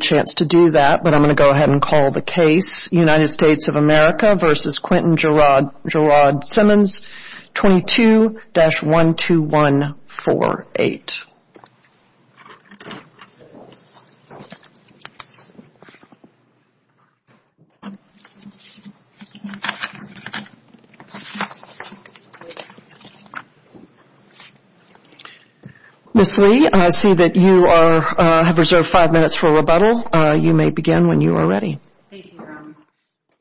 22-12148. Ms. Lee, I see that you have reserved five minutes for rebuttal. You may begin when you are ready. Thank you, Your Honor.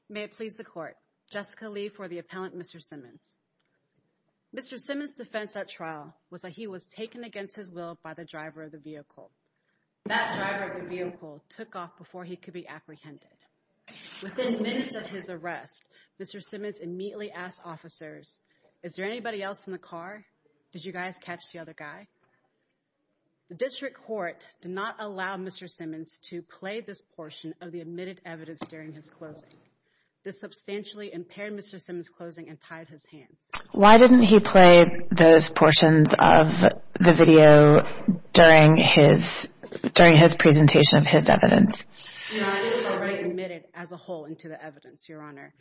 May it please the Court, Jessica Lee for the appellant, Mr. Simmons. Mr. Simmons' defense at trial was that he was taken against his will by the driver of the vehicle. That driver of the vehicle took off before he could be apprehended. Within minutes of his arrest, Mr. Simmons immediately asked officers, is there anybody else in the car? Did you guys catch the other guy? The district court did not allow Mr. Simmons to play this portion of the admitted evidence during his closing. This substantially impaired Mr. Simmons' closing and tied his hands. Why didn't he play those portions of the video during his presentation of his evidence? Your Honor, it was already admitted as a whole into the evidence, Your Honor.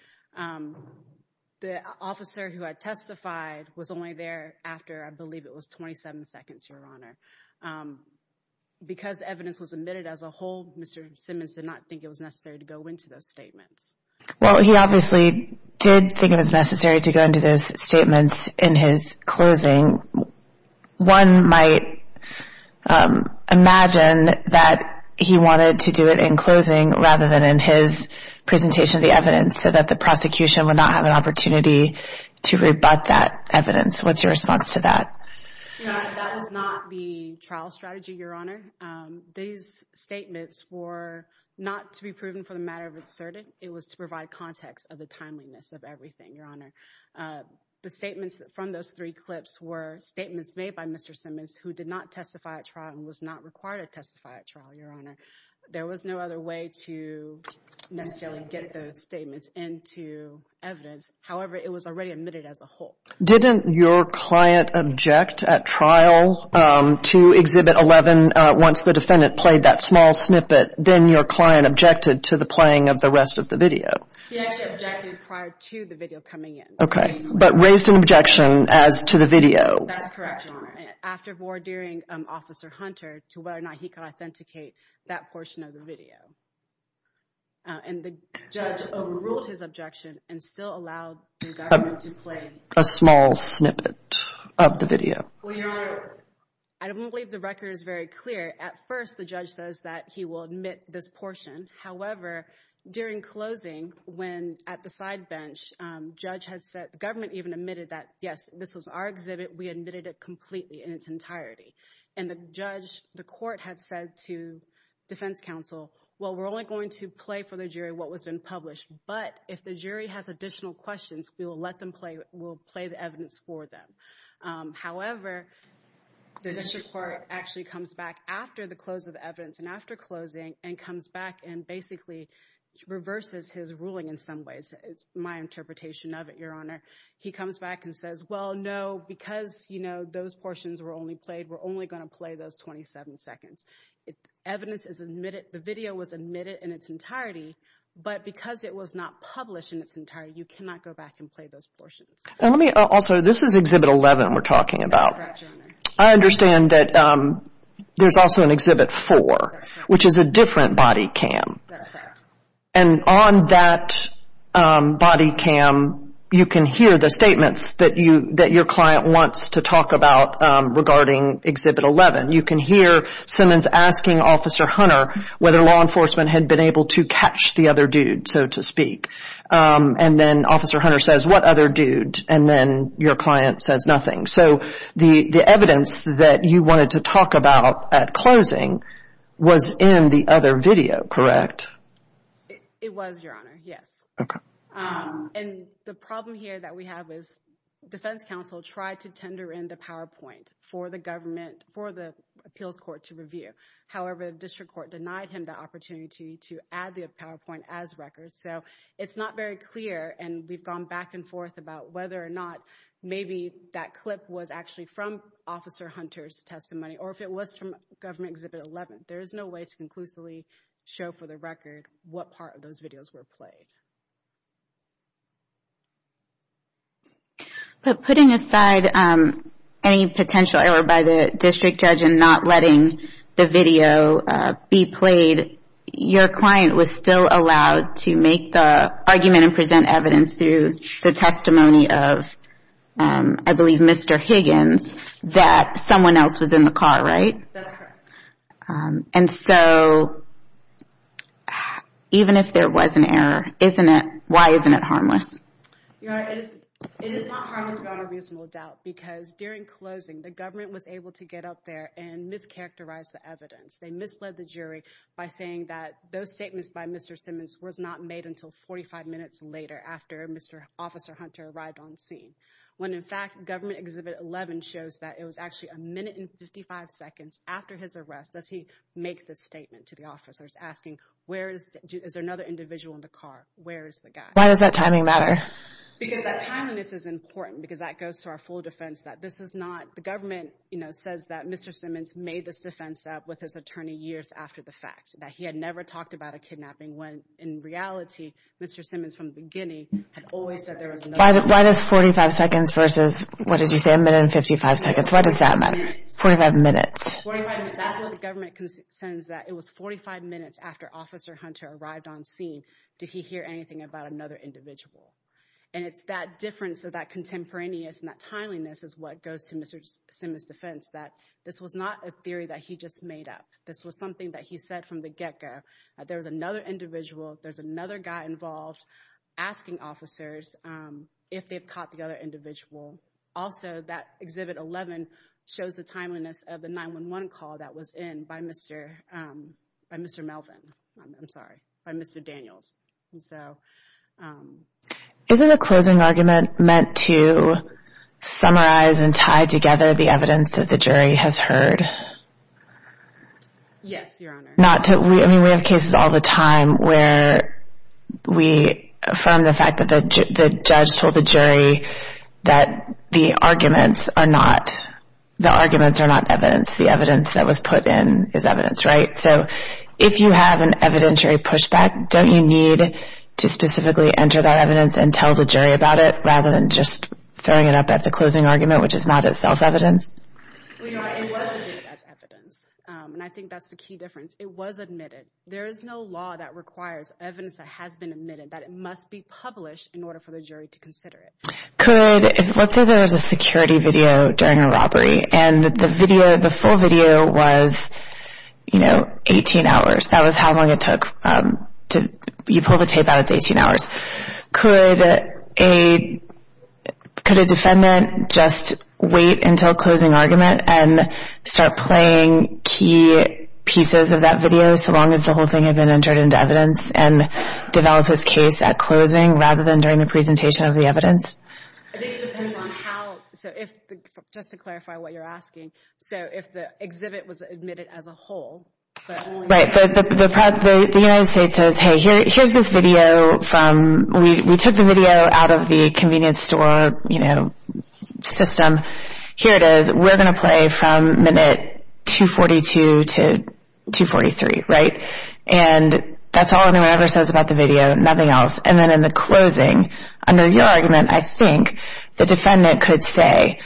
The officer who had testified was only there after I believe it was 27 seconds, Your Honor. Because the evidence was admitted as a whole, Mr. Simmons did not think it was necessary to go into those statements. Well, he obviously did think it was necessary to go into those statements in his closing. One might imagine that he wanted to do it in closing rather than in his presentation of the evidence so that the prosecution would not have an opportunity to rebut that evidence. What's your response to that? Your Honor, that was not the trial strategy, Your Honor. These statements were not to be proven for the matter of it asserted. It was to provide context of the timeliness of everything, Your Honor. The statements from those three clips were statements made by Mr. Simmons, who did not testify at trial and was not required to testify at trial, Your Honor. There was no other way to necessarily get those statements into evidence. However, it was already admitted as a whole. Didn't your client object at trial to Exhibit 11 once the defendant played that small snippet? Then your client objected to the playing of the rest of the video. He actually objected prior to the video coming in. OK, but raised an objection as to the video. That's correct, Your Honor. After ordering Officer Hunter to whether or not he could authenticate that portion of the video. And the judge overruled his objection and still allowed the government to play a small snippet of the video. Well, Your Honor, I don't believe the record is very clear. At first, the judge says that he will admit this portion. However, during closing, when at the side bench, judge had said, the government even admitted that, yes, this was our exhibit. We admitted it completely in its entirety. And the judge, the court, had said to defense counsel, well, we're only going to play for the jury what has been published. But if the jury has additional questions, we will play the evidence for them. However, the district court actually comes back after the close of evidence and after closing and comes back and basically reverses his ruling in some ways, my interpretation of it, Your Honor. He comes back and says, well, no, because those portions were only played, we're only going to play those 27 seconds. Evidence is admitted. The video was admitted in its entirety. But because it was not published in its entirety, you cannot go back and play those portions. And let me also, this is exhibit 11 we're talking about. I understand that there's also an exhibit four, which is a different body cam. And on that body cam, you can hear the statements that your client wants to talk about regarding exhibit 11. You can hear Simmons asking Officer Hunter whether law enforcement had been able to catch the other dude, so to speak. And then Officer Hunter says, what other dude? And then your client says nothing. So the evidence that you wanted to talk about at closing was in the other video, correct? It was, Your Honor, yes. And the problem here that we have is defense counsel tried to tender in the PowerPoint for the appeals court to review. However, the district court denied him the opportunity to add the PowerPoint as record. So it's not very clear. And we've gone back and forth about whether or not maybe that clip was actually from Officer Hunter's testimony, or if it was from government exhibit 11. There is no way to conclusively show for the record what part of those videos were played. But putting aside any potential error by the district judge and not letting the video be played, your client was still allowed to make the argument and present evidence through the testimony of, I believe, Mr. Higgins that someone else was in the car, right? That's correct. And so even if there was an error, why isn't it harmless? Your Honor, it is not harmless without a reasonable doubt. Because during closing, the government was able to get up there and mischaracterize the evidence. They misled the jury by saying that those statements by Mr. Simmons was not made until 45 minutes later after Mr. Officer Hunter arrived on scene, when, in fact, government exhibit 11 shows that it was actually a minute and 55 seconds after his arrest does he make this statement to the officers, asking, is there another individual in the car? Where is the guy? Why does that timing matter? Because that timeliness is important, because that goes to our full defense that this is not The government says that Mr. Simmons made this defense up with his attorney years after the fact, that he had never talked about a kidnapping when, in reality, Mr. Simmons, from the beginning, had always said there was no one. Why does 45 seconds versus, what did you say, a minute and 55 seconds? Why does that matter? 45 minutes. 45 minutes. That's what the government says, that it was 45 minutes after Officer Hunter arrived on scene, did he hear anything about another individual. And it's that difference of that contemporaneous and that timeliness is what goes to Mr. Simmons' defense, that this was not a theory that he just made up. This was something that he said from the get-go, that there was another individual, there's another guy involved, asking officers if they've caught the other individual. Also, that exhibit 11 shows the timeliness of the 911 call that was in by Mr. Melvin. I'm sorry, by Mr. Daniels. So isn't a closing argument meant to summarize and tie together the evidence that the jury has heard? Yes, Your Honor. Not to, I mean, we have cases all the time where we affirm the fact that the judge told the jury that the arguments are not evidence. The evidence that was put in is evidence, right? So if you have an evidentiary pushback, don't you need to specifically enter that evidence and tell the jury about it, rather than just throwing it up at the closing argument, which is not itself evidence? Well, Your Honor, it wasn't viewed as evidence. And I think that's the key difference. It was admitted. There is no law that requires evidence that has been admitted, that it must be published in order for the jury to consider it. Let's say there was a security video during a robbery. And the full video was 18 hours. That was how long it took. You pull the tape out, it's 18 hours. Could a defendant just wait until closing argument and start playing key pieces of that video, so long as the whole thing had been entered into evidence and develop his case at closing, rather than during the presentation of the evidence? I think it depends on how, so if, just to clarify what you're asking, so if the exhibit was admitted as a whole, but only the United States says, hey, here's this video from, we took the video out of the convenience store system. Here it is. We're going to play from minute 242 to 243, right? And that's all anyone ever says about the video, nothing else. And then in the closing, under your argument, I think the defendant could say,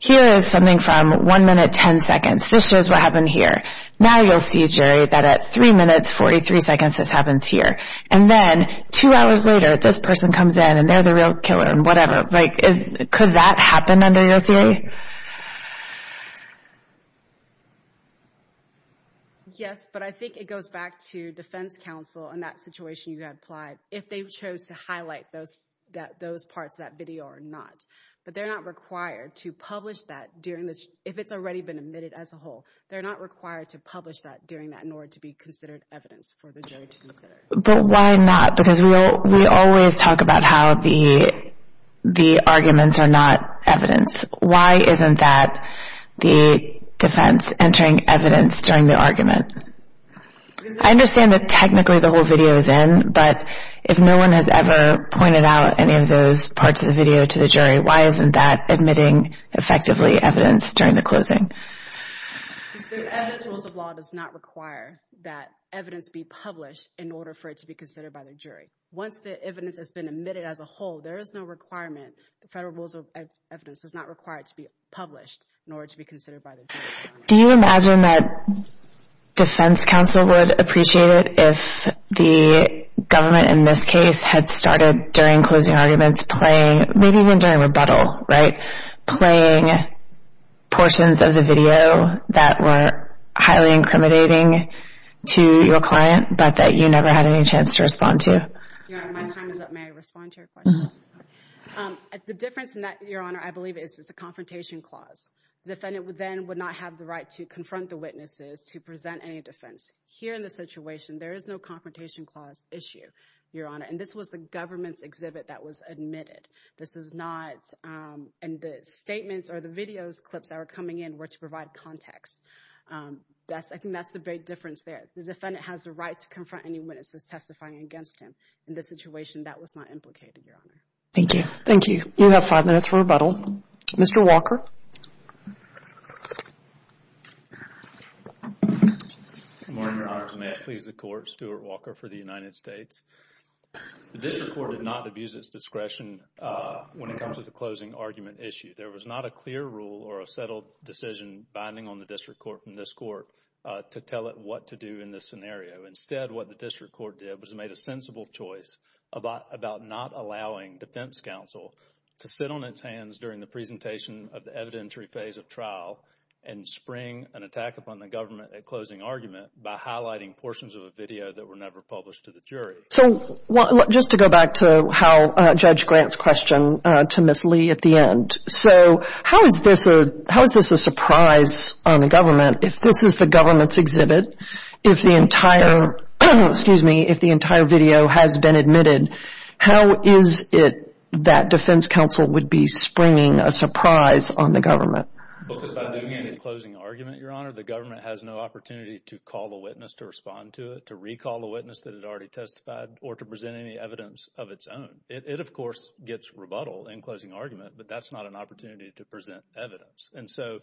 here is something from 1 minute 10 seconds. This shows what happened here. Now you'll see, Jerry, that at 3 minutes 43 seconds, this happens here. And then two hours later, this person comes in, and they're the real killer, and whatever. Could that happen under your theory? Yes, but I think it goes back to defense counsel and that situation you had applied, if they chose to highlight those parts of that video or not. But they're not required to publish that during this, if it's already been admitted as a whole. They're not required to publish that during that, nor to be considered evidence for the jury to consider. But why not? Because we always talk about how the arguments are not evidence. Why isn't that the defense entering evidence during the argument? I understand that technically the whole video is in, but if no one has ever pointed out any of those parts of the video to the jury, why isn't that admitting effectively evidence during the closing? The evidence rules of law does not require that evidence be published in order for it to be considered by the jury. Once the evidence has been admitted as a whole, there is no requirement. The federal rules of evidence does not require it to be published in order to be considered by the jury. Do you imagine that defense counsel would appreciate it if the government, in this case, had started during closing arguments playing, maybe even during rebuttal, playing portions of the video that were highly incriminating to your client, but that you never had any chance to respond to? Your Honor, my time is up. May I respond to your question? The difference in that, Your Honor, I believe, is the confrontation clause. Defendant then would not have the right to confront the witnesses to present any defense. Here in this situation, there is no confrontation clause issue, Your Honor. And this was the government's exhibit that was admitted. This is not. And the statements or the video clips that were coming in were to provide context. I think that's the big difference there. The defendant has the right to confront anyone that's testifying against him. In this situation, that was not implicated, Your Honor. Thank you. Thank you. You have five minutes for rebuttal. Mr. Walker? Good morning, Your Honor. May I please the court? Stuart Walker for the United States. The district court did not abuse its discretion when it comes to the closing argument issue. There was not a clear rule or a settled decision binding on the district court from this court to tell it what to do in this scenario. Instead, what the district court did was made a sensible choice about not allowing defense counsel to sit on its hands during the presentation of the evidentiary phase of trial and spring an attack upon the government at closing argument by highlighting portions of a video that were never published to the jury. So just to go back to how Judge Grant's question to Ms. Lee at the end. So how is this a surprise on the government? If this is the government's exhibit, if the entire video has been admitted, how is it that defense counsel would be springing a surprise on the government? Because by doing any closing argument, Your Honor, the government has no opportunity to call a witness to respond to it, to recall a witness that had already testified, or to present any evidence of its own. It, of course, gets rebuttal in closing argument, but that's not an opportunity to present evidence. And so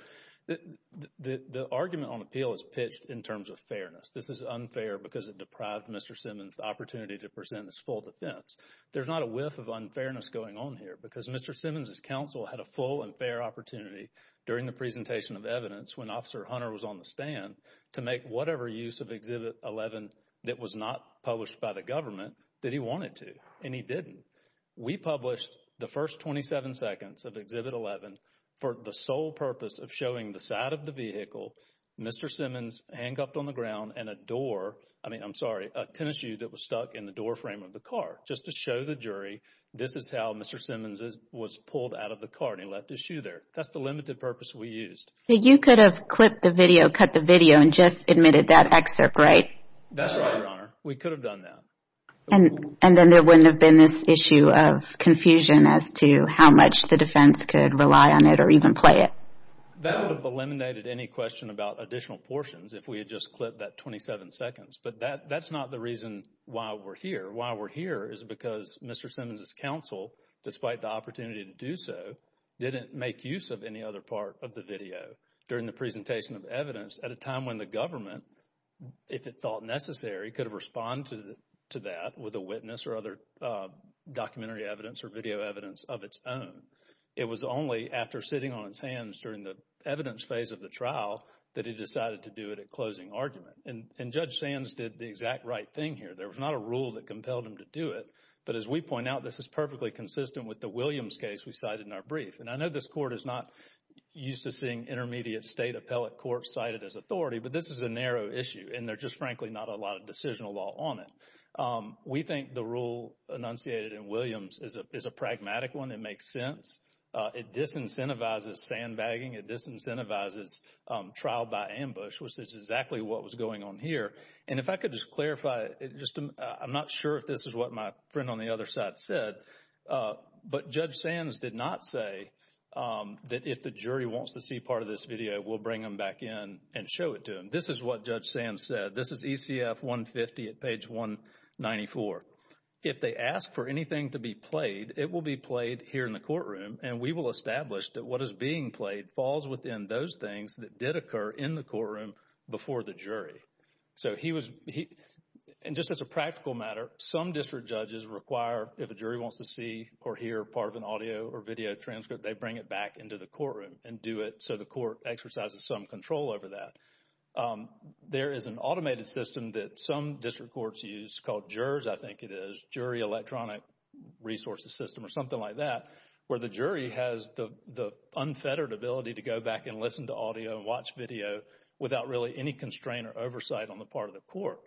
the argument on appeal is pitched in terms of fairness. This is unfair because it deprived Mr. Simmons the opportunity to present his full defense. There's not a whiff of unfairness going on here because Mr. Simmons' counsel had a full and fair opportunity during the presentation of evidence when Officer Hunter was on the stand to make whatever use of Exhibit 11 that was not published by the government that he wanted to, and he didn't. We published the first 27 seconds of Exhibit 11 for the sole purpose of showing the side of the vehicle, Mr. Simmons handcuffed on the ground, and a door, I mean, I'm sorry, a tennis shoe that was stuck in the doorframe of the car just to show the jury this is how Mr. Simmons was pulled out of the car, and he left his shoe there. That's the limited purpose we used. You could have clipped the video, cut the video, and just admitted that excerpt, right? That's right, Your Honor. We could have done that. And then there wouldn't have been this issue of confusion as to how much the defense could rely on it or even play it? That would have eliminated any question about additional portions if we had just clipped that 27 seconds. But that's not the reason why we're here. Why we're here is because Mr. Simmons' counsel, despite the opportunity to do so, didn't make use of any other part of the video during the presentation of evidence at a time when the government, if it thought necessary, could have responded to that with a witness or other documentary evidence or video evidence of its own. It was only after sitting on his hands during the evidence phase of the trial that he decided to do it at closing argument. And Judge Sands did the exact right thing here. There was not a rule that compelled him to do it. But as we point out, this is perfectly consistent with the Williams case we cited in our brief. And I know this court is not used to seeing intermediate state appellate courts cited as authority, but this is a narrow issue. And there's just frankly not a lot of decisional law on it. We think the rule enunciated in Williams is a pragmatic one. It makes sense. It disincentivizes sandbagging. It disincentivizes trial by ambush, which is exactly what was going on here. And if I could just clarify, just I'm not sure if this is what my friend on the other side said, but Judge Sands did not say that if the jury wants to see part of this video, we'll bring them back in and show it to them. This is what Judge Sands said. This is ECF 150 at page 194. If they ask for anything to be played, it will be played here in the courtroom. And we will establish that what is being played falls within those things that did occur in the courtroom before the jury. So he was, and just as a practical matter, some district judges require if a jury wants to see or hear part of an audio or video transcript, they bring it back into the courtroom and do it so the court exercises some control over that. There is an automated system that some district courts use called JERS, I think it is, Jury Electronic Resources System or something like that, where the jury has the unfettered ability to go back and listen to audio and watch video without really any constraint or oversight on the part of the court.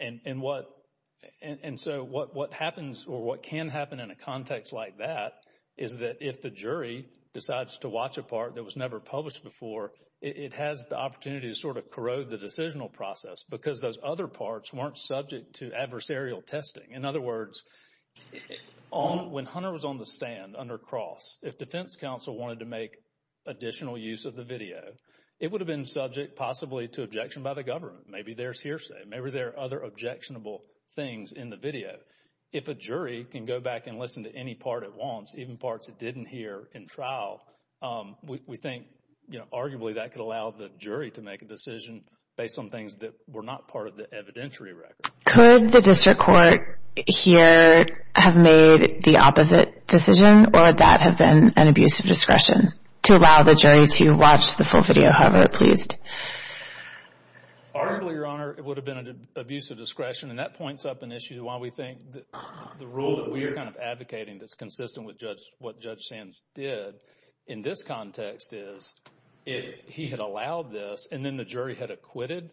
And so what happens or what can happen in a context like that is that if the jury decides to watch a part that was never published before, it has the opportunity to sort of corrode the decisional process because those other parts weren't subject to adversarial testing. In other words, when Hunter was on the stand under Cross, if Defense Counsel wanted to make additional use of the video, it would have been subject possibly to objection by the government. Maybe there's hearsay, maybe there are other objectionable things in the video. If a jury can go back and listen to any part at once, even parts it didn't hear in trial, we think arguably that could allow the jury to make a decision based on things that were not part of the evidentiary record. Could the district court here have made the opposite decision or would that have been an abuse of discretion to allow the jury to watch the full video however it pleased? Arguably, Your Honor, it would have been an abuse of discretion and that points up an issue to why we think the rule that we are kind of advocating that's consistent with what Judge Sands did in this context is if he had allowed this and then the jury had acquitted,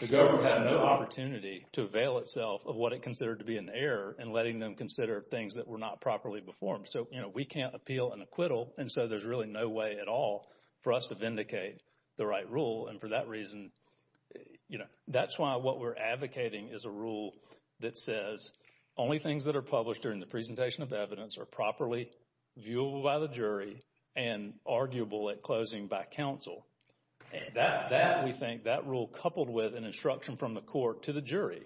the government had no opportunity to avail itself of what it considered to be an error and letting them consider things that were not properly performed. So, you know, we can't appeal an acquittal and so there's really no way at all for us to vindicate the right rule and for that reason, you know, that's why what we're advocating is a rule that says only things that are published during the presentation of evidence are properly viewable by the jury and arguable at closing by counsel. That, we think, that rule coupled with an instruction from the court to the jury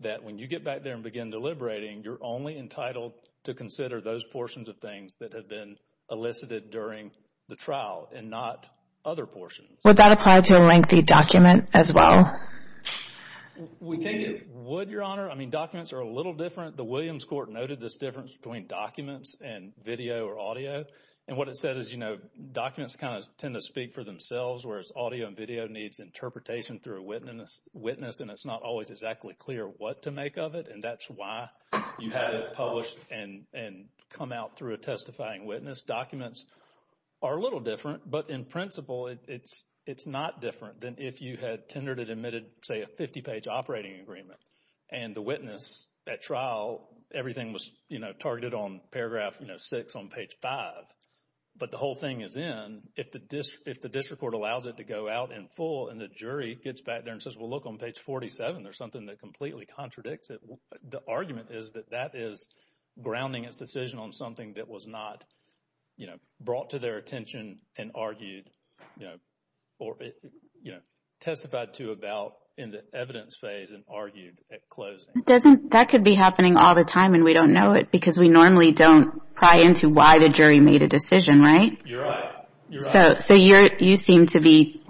that when you get back there and begin deliberating, you're only entitled to consider those portions of things that have been elicited during the trial and not other portions. Would that apply to a lengthy document as well? We can't, would, Your Honor. I mean, documents are a little different. The Williams Court noted this difference between documents and video or audio and what it said is, you know, documents kind of tend to speak for themselves whereas audio and video needs interpretation through a witness and it's not always exactly clear what to make of it and that's why you had it published and come out through a testifying witness. Documents are a little different but in principle, it's not different than if you had tendered and admitted, say, a 50-page operating agreement and the witness at trial, everything was, you know, targeted on paragraph, you know, six on page five but the whole thing is in, if the district court allows it to go out in full and the jury gets back there and says, well, look, on page 47, there's something that completely contradicts it, the argument is that that is grounding its decision on something that was not, you know, brought to their attention and argued, you know, testified to about in the evidence phase and argued at closing. That could be happening all the time and we don't know it because we normally don't pry into why the jury made a decision, right? You're right, you're right. So you seem to be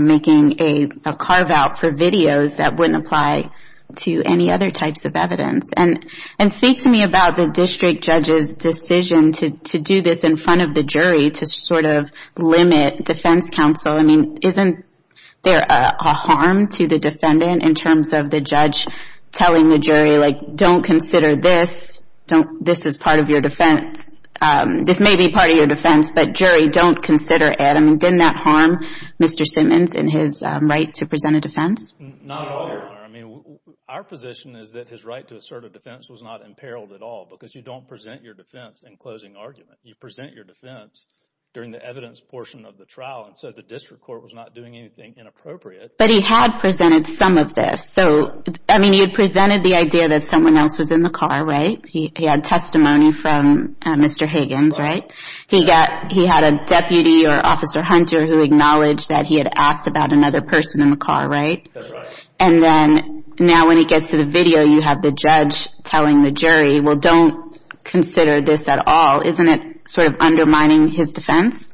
making a carve out for videos that wouldn't apply to any other types of evidence and speak to me about the district judge's decision to do this in front of the jury to sort of limit defense counsel. I mean, isn't there a harm to the defendant in terms of the judge telling the jury, like, don't consider this, this is part of your defense, this may be part of your defense but jury, don't consider it. I mean, didn't that harm Mr. Simmons in his right to present a defense? Not at all, Your Honor. I mean, our position is that his right to assert a defense was not imperiled at all because you don't present your defense in closing argument. You present your defense during the evidence portion of the trial and so the district court was not doing anything inappropriate. But he had presented some of this. So, I mean, he had presented the idea that someone else was in the car, right? He had testimony from Mr. Higgins, right? He got, he had a deputy or officer Hunter who acknowledged that he had asked about another person in the car, right? That's right. And then now when he gets to the video, you have the judge telling the jury, well, don't consider this at all. Isn't it sort of undermining his defense?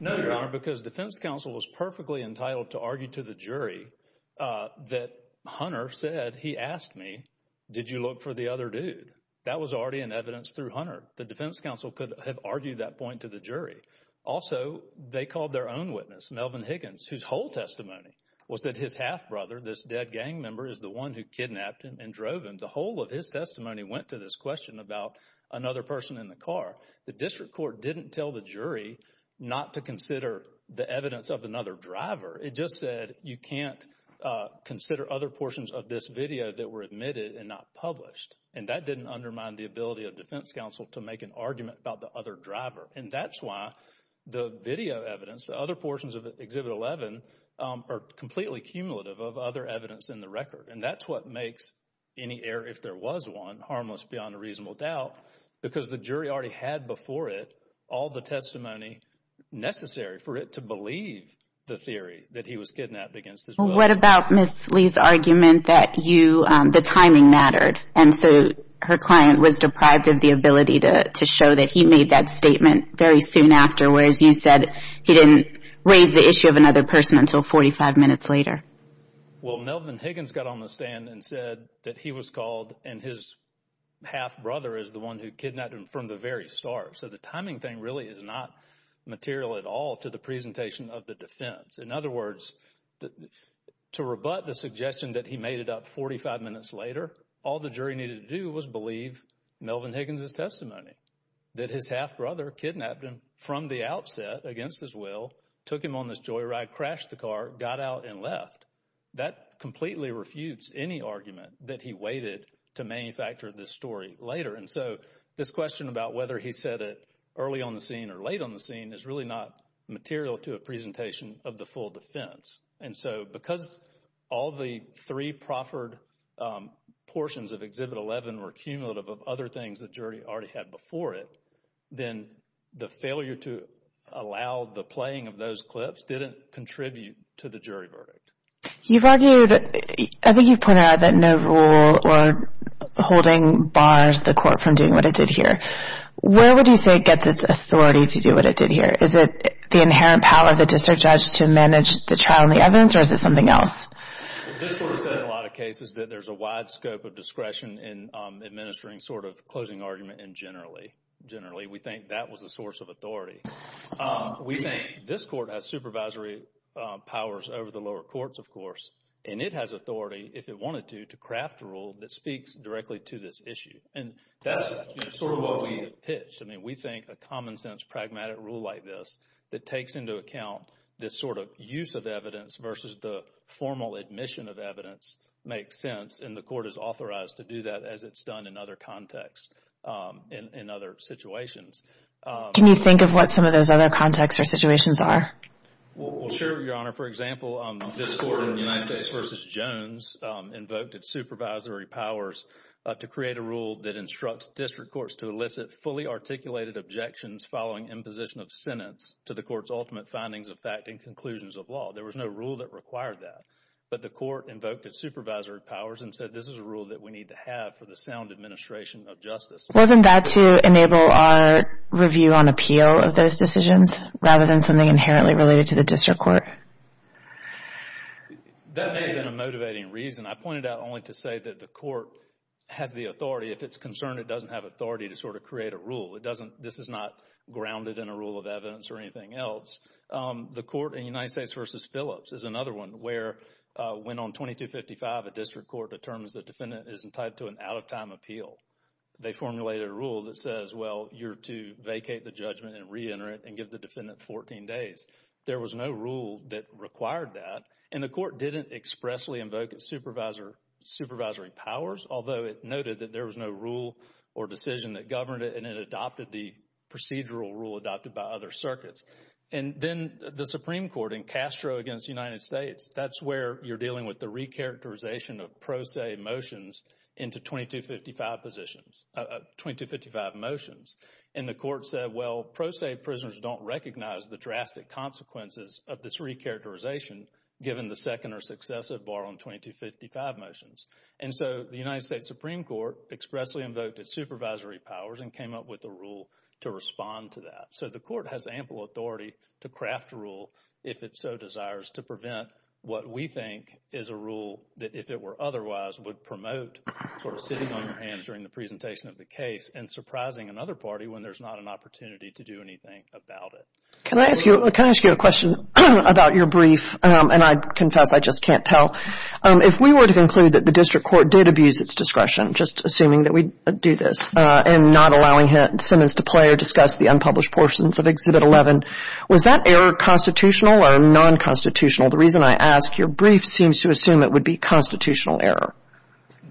No, Your Honor, because defense counsel was perfectly entitled to argue to the jury that Hunter said, he asked me, did you look for the other dude? That was already in evidence through Hunter. The defense counsel could have argued that point to the jury. Also, they called their own witness, Melvin Higgins, whose whole testimony was that his half-brother, this dead gang member, is the one who kidnapped him and drove him. The whole of his testimony went to this question about another person in the car. The district court didn't tell the jury not to consider the evidence of another driver. It just said, you can't consider other portions of this video that were admitted and not published. And that didn't undermine the ability of defense counsel to make an argument about the other driver. And that's why the video evidence, the other portions of Exhibit 11, are completely cumulative of other evidence in the record. And that's what makes any error, if there was one, harmless beyond a reasonable doubt, because the jury already had before it all the testimony necessary for it to believe the theory that he was kidnapped against his will. Well, what about Ms. Lee's argument that the timing mattered? And so her client was deprived of the ability You said he didn't raise the issue of another person until 45 minutes later. Well, Melvin Higgins got on the stand and said that he was called, and his half-brother is the one who kidnapped him from the very start. So the timing thing really is not material at all to the presentation of the defense. In other words, to rebut the suggestion that he made it up 45 minutes later, all the jury needed to do was believe Melvin Higgins' testimony, that his half-brother kidnapped him from the outset against his will, took him on this joyride, crashed the car, got out, and left. That completely refutes any argument that he waited to manufacture this story later. And so this question about whether he said it early on the scene or late on the scene is really not material to a presentation of the full defense. And so because all the three proffered portions of Exhibit 11 were cumulative of other things the jury already had before it, then the failure to allow the playing of those clips didn't contribute to the jury verdict. You've argued, I think you've pointed out that no rule or holding bars the court from doing what it did here. Where would you say it gets its authority to do what it did here? Is it the inherent power of the district judge to manage the trial and the evidence, or is it something else? The district has said in a lot of cases that there's a wide scope of discretion in administering sort of closing argument and generally, generally we think that was a source of authority. We think this court has supervisory powers over the lower courts, of course, and it has authority, if it wanted to, to craft a rule that speaks directly to this issue. And that's sort of what we pitched. I mean, we think a common sense, pragmatic rule like this that takes into account this sort of use of evidence versus the formal admission of evidence makes sense. And the court is authorized to do that as it's done in other contexts in other situations. Can you think of what some of those other contexts or situations are? Well, sure, Your Honor. For example, this court in the United States versus Jones invoked its supervisory powers to create a rule that instructs district courts to elicit fully articulated objections following imposition of sentence to the court's ultimate findings of fact and conclusions of law. There was no rule that required that, but the court invoked its supervisory powers and said this is a rule that we need to have for the sound administration of justice. Wasn't that to enable a review on appeal of those decisions rather than something inherently related to the district court? That may have been a motivating reason. I pointed out only to say that the court has the authority. If it's concerned, it doesn't have authority to sort of create a rule. This is not grounded in a rule of evidence or anything else. The court in the United States versus Phillips is another one where, when on 2255, a district court determines the defendant isn't tied to an out-of-time appeal, they formulate a rule that says, well, you're to vacate the judgment and reenter it and give the defendant 14 days. There was no rule that required that, and the court didn't expressly invoke its supervisory powers, although it noted that there was no rule or decision that governed it, and it adopted the procedural rule adopted by other circuits. And then the Supreme Court in Castro against the United States, that's where you're dealing with the recharacterization of pro se motions into 2255 positions, 2255 motions, and the court said, well, pro se prisoners don't recognize the drastic consequences of this recharacterization given the second or successive bar on 2255 motions. And so the United States Supreme Court expressly invoked its supervisory powers and came up with a rule to respond to that. So the court has ample authority to craft a rule if it so desires to prevent what we think is a rule that if it were otherwise would promote sort of sitting on your hands during the presentation of the case and surprising another party when there's not an opportunity to do anything about it. Can I ask you a question about your brief? And I confess I just can't tell. If we were to conclude that the district court did abuse its discretion, just assuming that we do this, and not allowing Simmons to play or discuss the unpublished portions of Exhibit 11, was that error constitutional or non-constitutional? The reason I ask, your brief seems to assume it would be constitutional error.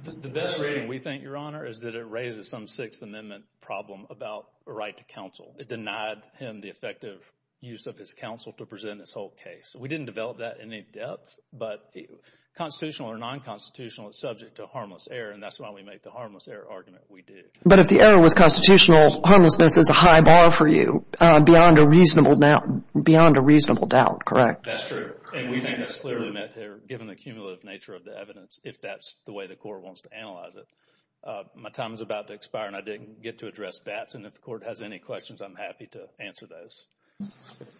The best reading we think, Your Honor, is that it raises some Sixth Amendment problem about a right to counsel. It denied him the effective use of his counsel to present this whole case. We didn't develop that in any depth, but constitutional or non-constitutional is subject to harmless error, and that's why we make the harmless error argument we did. But if the error was constitutional, harmlessness is a high bar for you beyond a reasonable doubt, correct? That's true. And we think that's clearly met here, given the cumulative nature of the evidence, if that's the way the court wants to analyze it. My time is about to expire, and I didn't get to address bats, and if the court has any questions, I'm happy to answer those.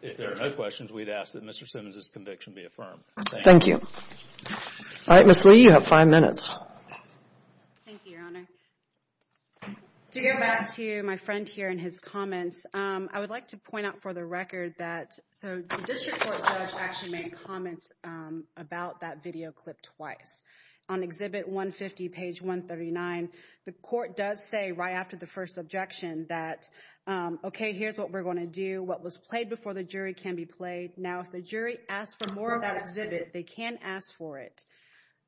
If there are no questions, we'd ask that Mr. Simmons' conviction be affirmed. Thank you. All right, Ms. Lee, you have five minutes. Thank you, Your Honor. To get back to my friend here and his comments, I would like to point out for the record that, so the district court judge actually made comments about that video clip twice. On Exhibit 150, page 139, the court does say right after the first objection that, okay, here's what we're gonna do. What was played before the jury can be played. Now, if the jury asks for more of that exhibit, they can ask for it.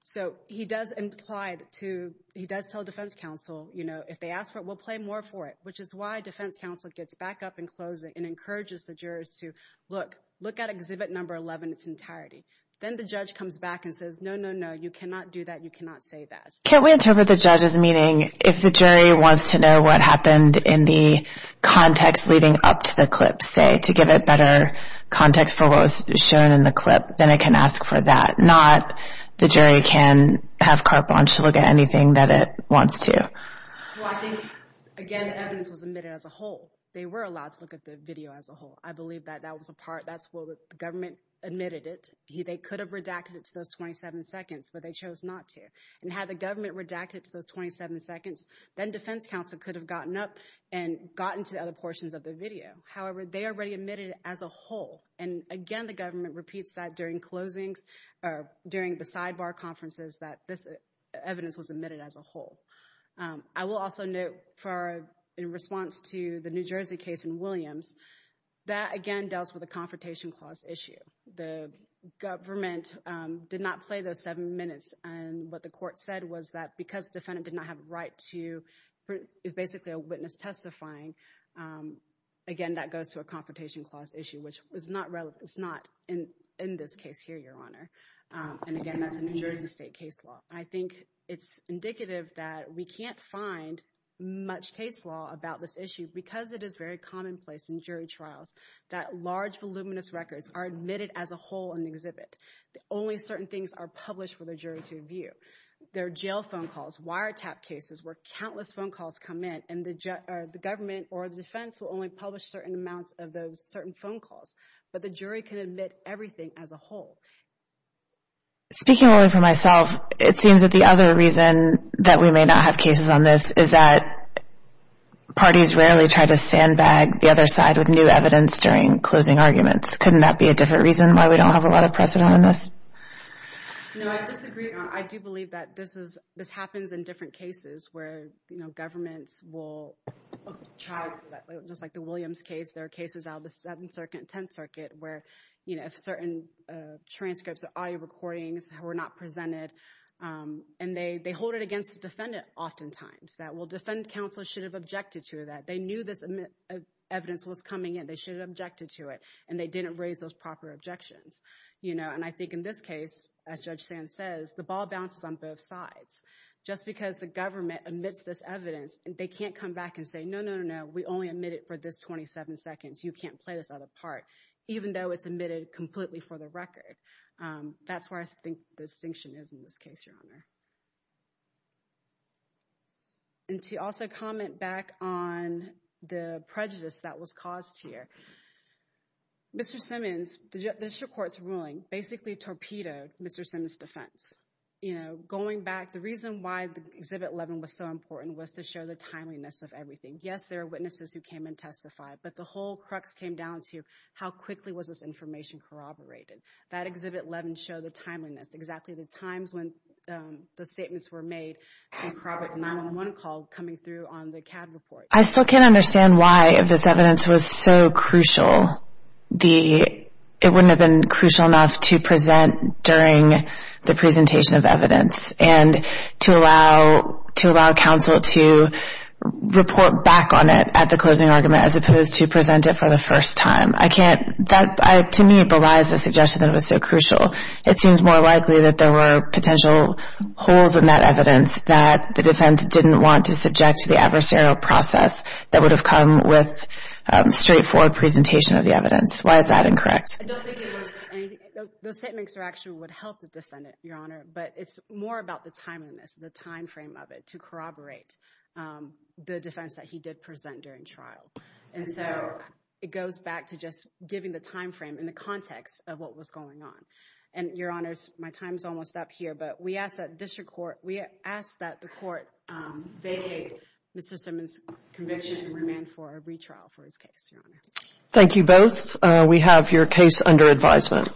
So he does imply to, he does tell defense counsel, you know, if they ask for it, we'll play more for it, which is why defense counsel gets back up and closing and encourages the jurors to, look, look at Exhibit Number 11 in its entirety. Then the judge comes back and says, no, no, no, you cannot do that, you cannot say that. Can't we interpret the judge as meaning if the jury wants to know what happened in the context leading up to the clip, say, to give it better context for what was shown in the clip, then it can ask for that, not the jury can have carte blanche to look at anything that it wants to. Well, I think, again, the evidence was admitted as a whole. They were allowed to look at the video as a whole. I believe that that was a part, that's where the government admitted it. They could have redacted it to those 27 seconds, but they chose not to. And had the government redacted it to those 27 seconds, then defense counsel could have gotten up and gotten to the other portions of the video. However, they already admitted it as a whole. And again, the government repeats that during closings, or during the sidebar conferences, that this evidence was admitted as a whole. I will also note, in response to the New Jersey case in Williams, that, again, deals with a Confrontation Clause issue. The government did not play those seven minutes, and what the court said was that, because the defendant did not have a right to, it's basically a witness testifying, again, that goes to a Confrontation Clause issue, which is not relevant, it's not in this case here, Your Honor, and again, that's a New Jersey State case law. I think it's indicative that we can't find much case law about this issue, because it is very commonplace in jury trials that large, voluminous records are admitted as a whole in the exhibit. Only certain things are published for the jury to review. There are jail phone calls, wiretap cases, where countless phone calls come in, and the government or the defense will only publish certain amounts of those certain phone calls. But the jury can admit everything as a whole. Speaking only for myself, it seems that the other reason that we may not have cases on this is that parties rarely try to sandbag the other side with new evidence during closing arguments. Couldn't that be a different reason why we don't have a lot of precedent on this? No, I disagree, Your Honor. I do believe that this happens in different cases, where governments will try, just like the Williams case, there are cases out of the Seventh Circuit and Tenth Circuit where certain transcripts or audio recordings were not presented, and they hold it against the defendant oftentimes, that, well, defendant counsel should have objected to that. They knew this evidence was coming in. They should have objected to it, and they didn't raise those proper objections. And I think in this case, as Judge Sand says, the ball bounces on both sides. Just because the government admits this evidence, they can't come back and say, no, no, no, no, we only admit it for this 27 seconds. You can't play this other part. Even though it's admitted completely for the record. That's where I think the distinction is in this case, Your Honor. And to also comment back on the prejudice that was caused here. Mr. Simmons, the district court's ruling basically torpedoed Mr. Simmons' defense. Going back, the reason why Exhibit 11 was so important was to show the timeliness of everything. Yes, there are witnesses who came and testified, but the whole crux came down to how quickly was this information corroborated? That Exhibit 11 showed the timeliness, exactly the times when the statements were made in corroborating the 911 call coming through on the CAD report. I still can't understand why this evidence was so crucial. It wouldn't have been crucial enough to present during the presentation of evidence and to allow counsel to report back on it at the closing argument, as opposed to present it for the first time. To me, it belies the suggestion that it was so crucial. It seems more likely that there were potential holes in that evidence that the defense didn't want to subject to the adversarial process that would have come with a straightforward presentation of the evidence. Why is that incorrect? I don't think it was anything. Those statements actually would help the defendant, Your Honor, but it's more about the timeliness, the timeframe of it, to corroborate the defense that he did present during trial. And so, it goes back to just giving the timeframe in the context of what was going on. And, Your Honors, my time's almost up here, but we ask that the court vacate Mr. Simmons' conviction and remand for a retrial for his case, Your Honor. Thank you both. We have your case under advisement. Thank you.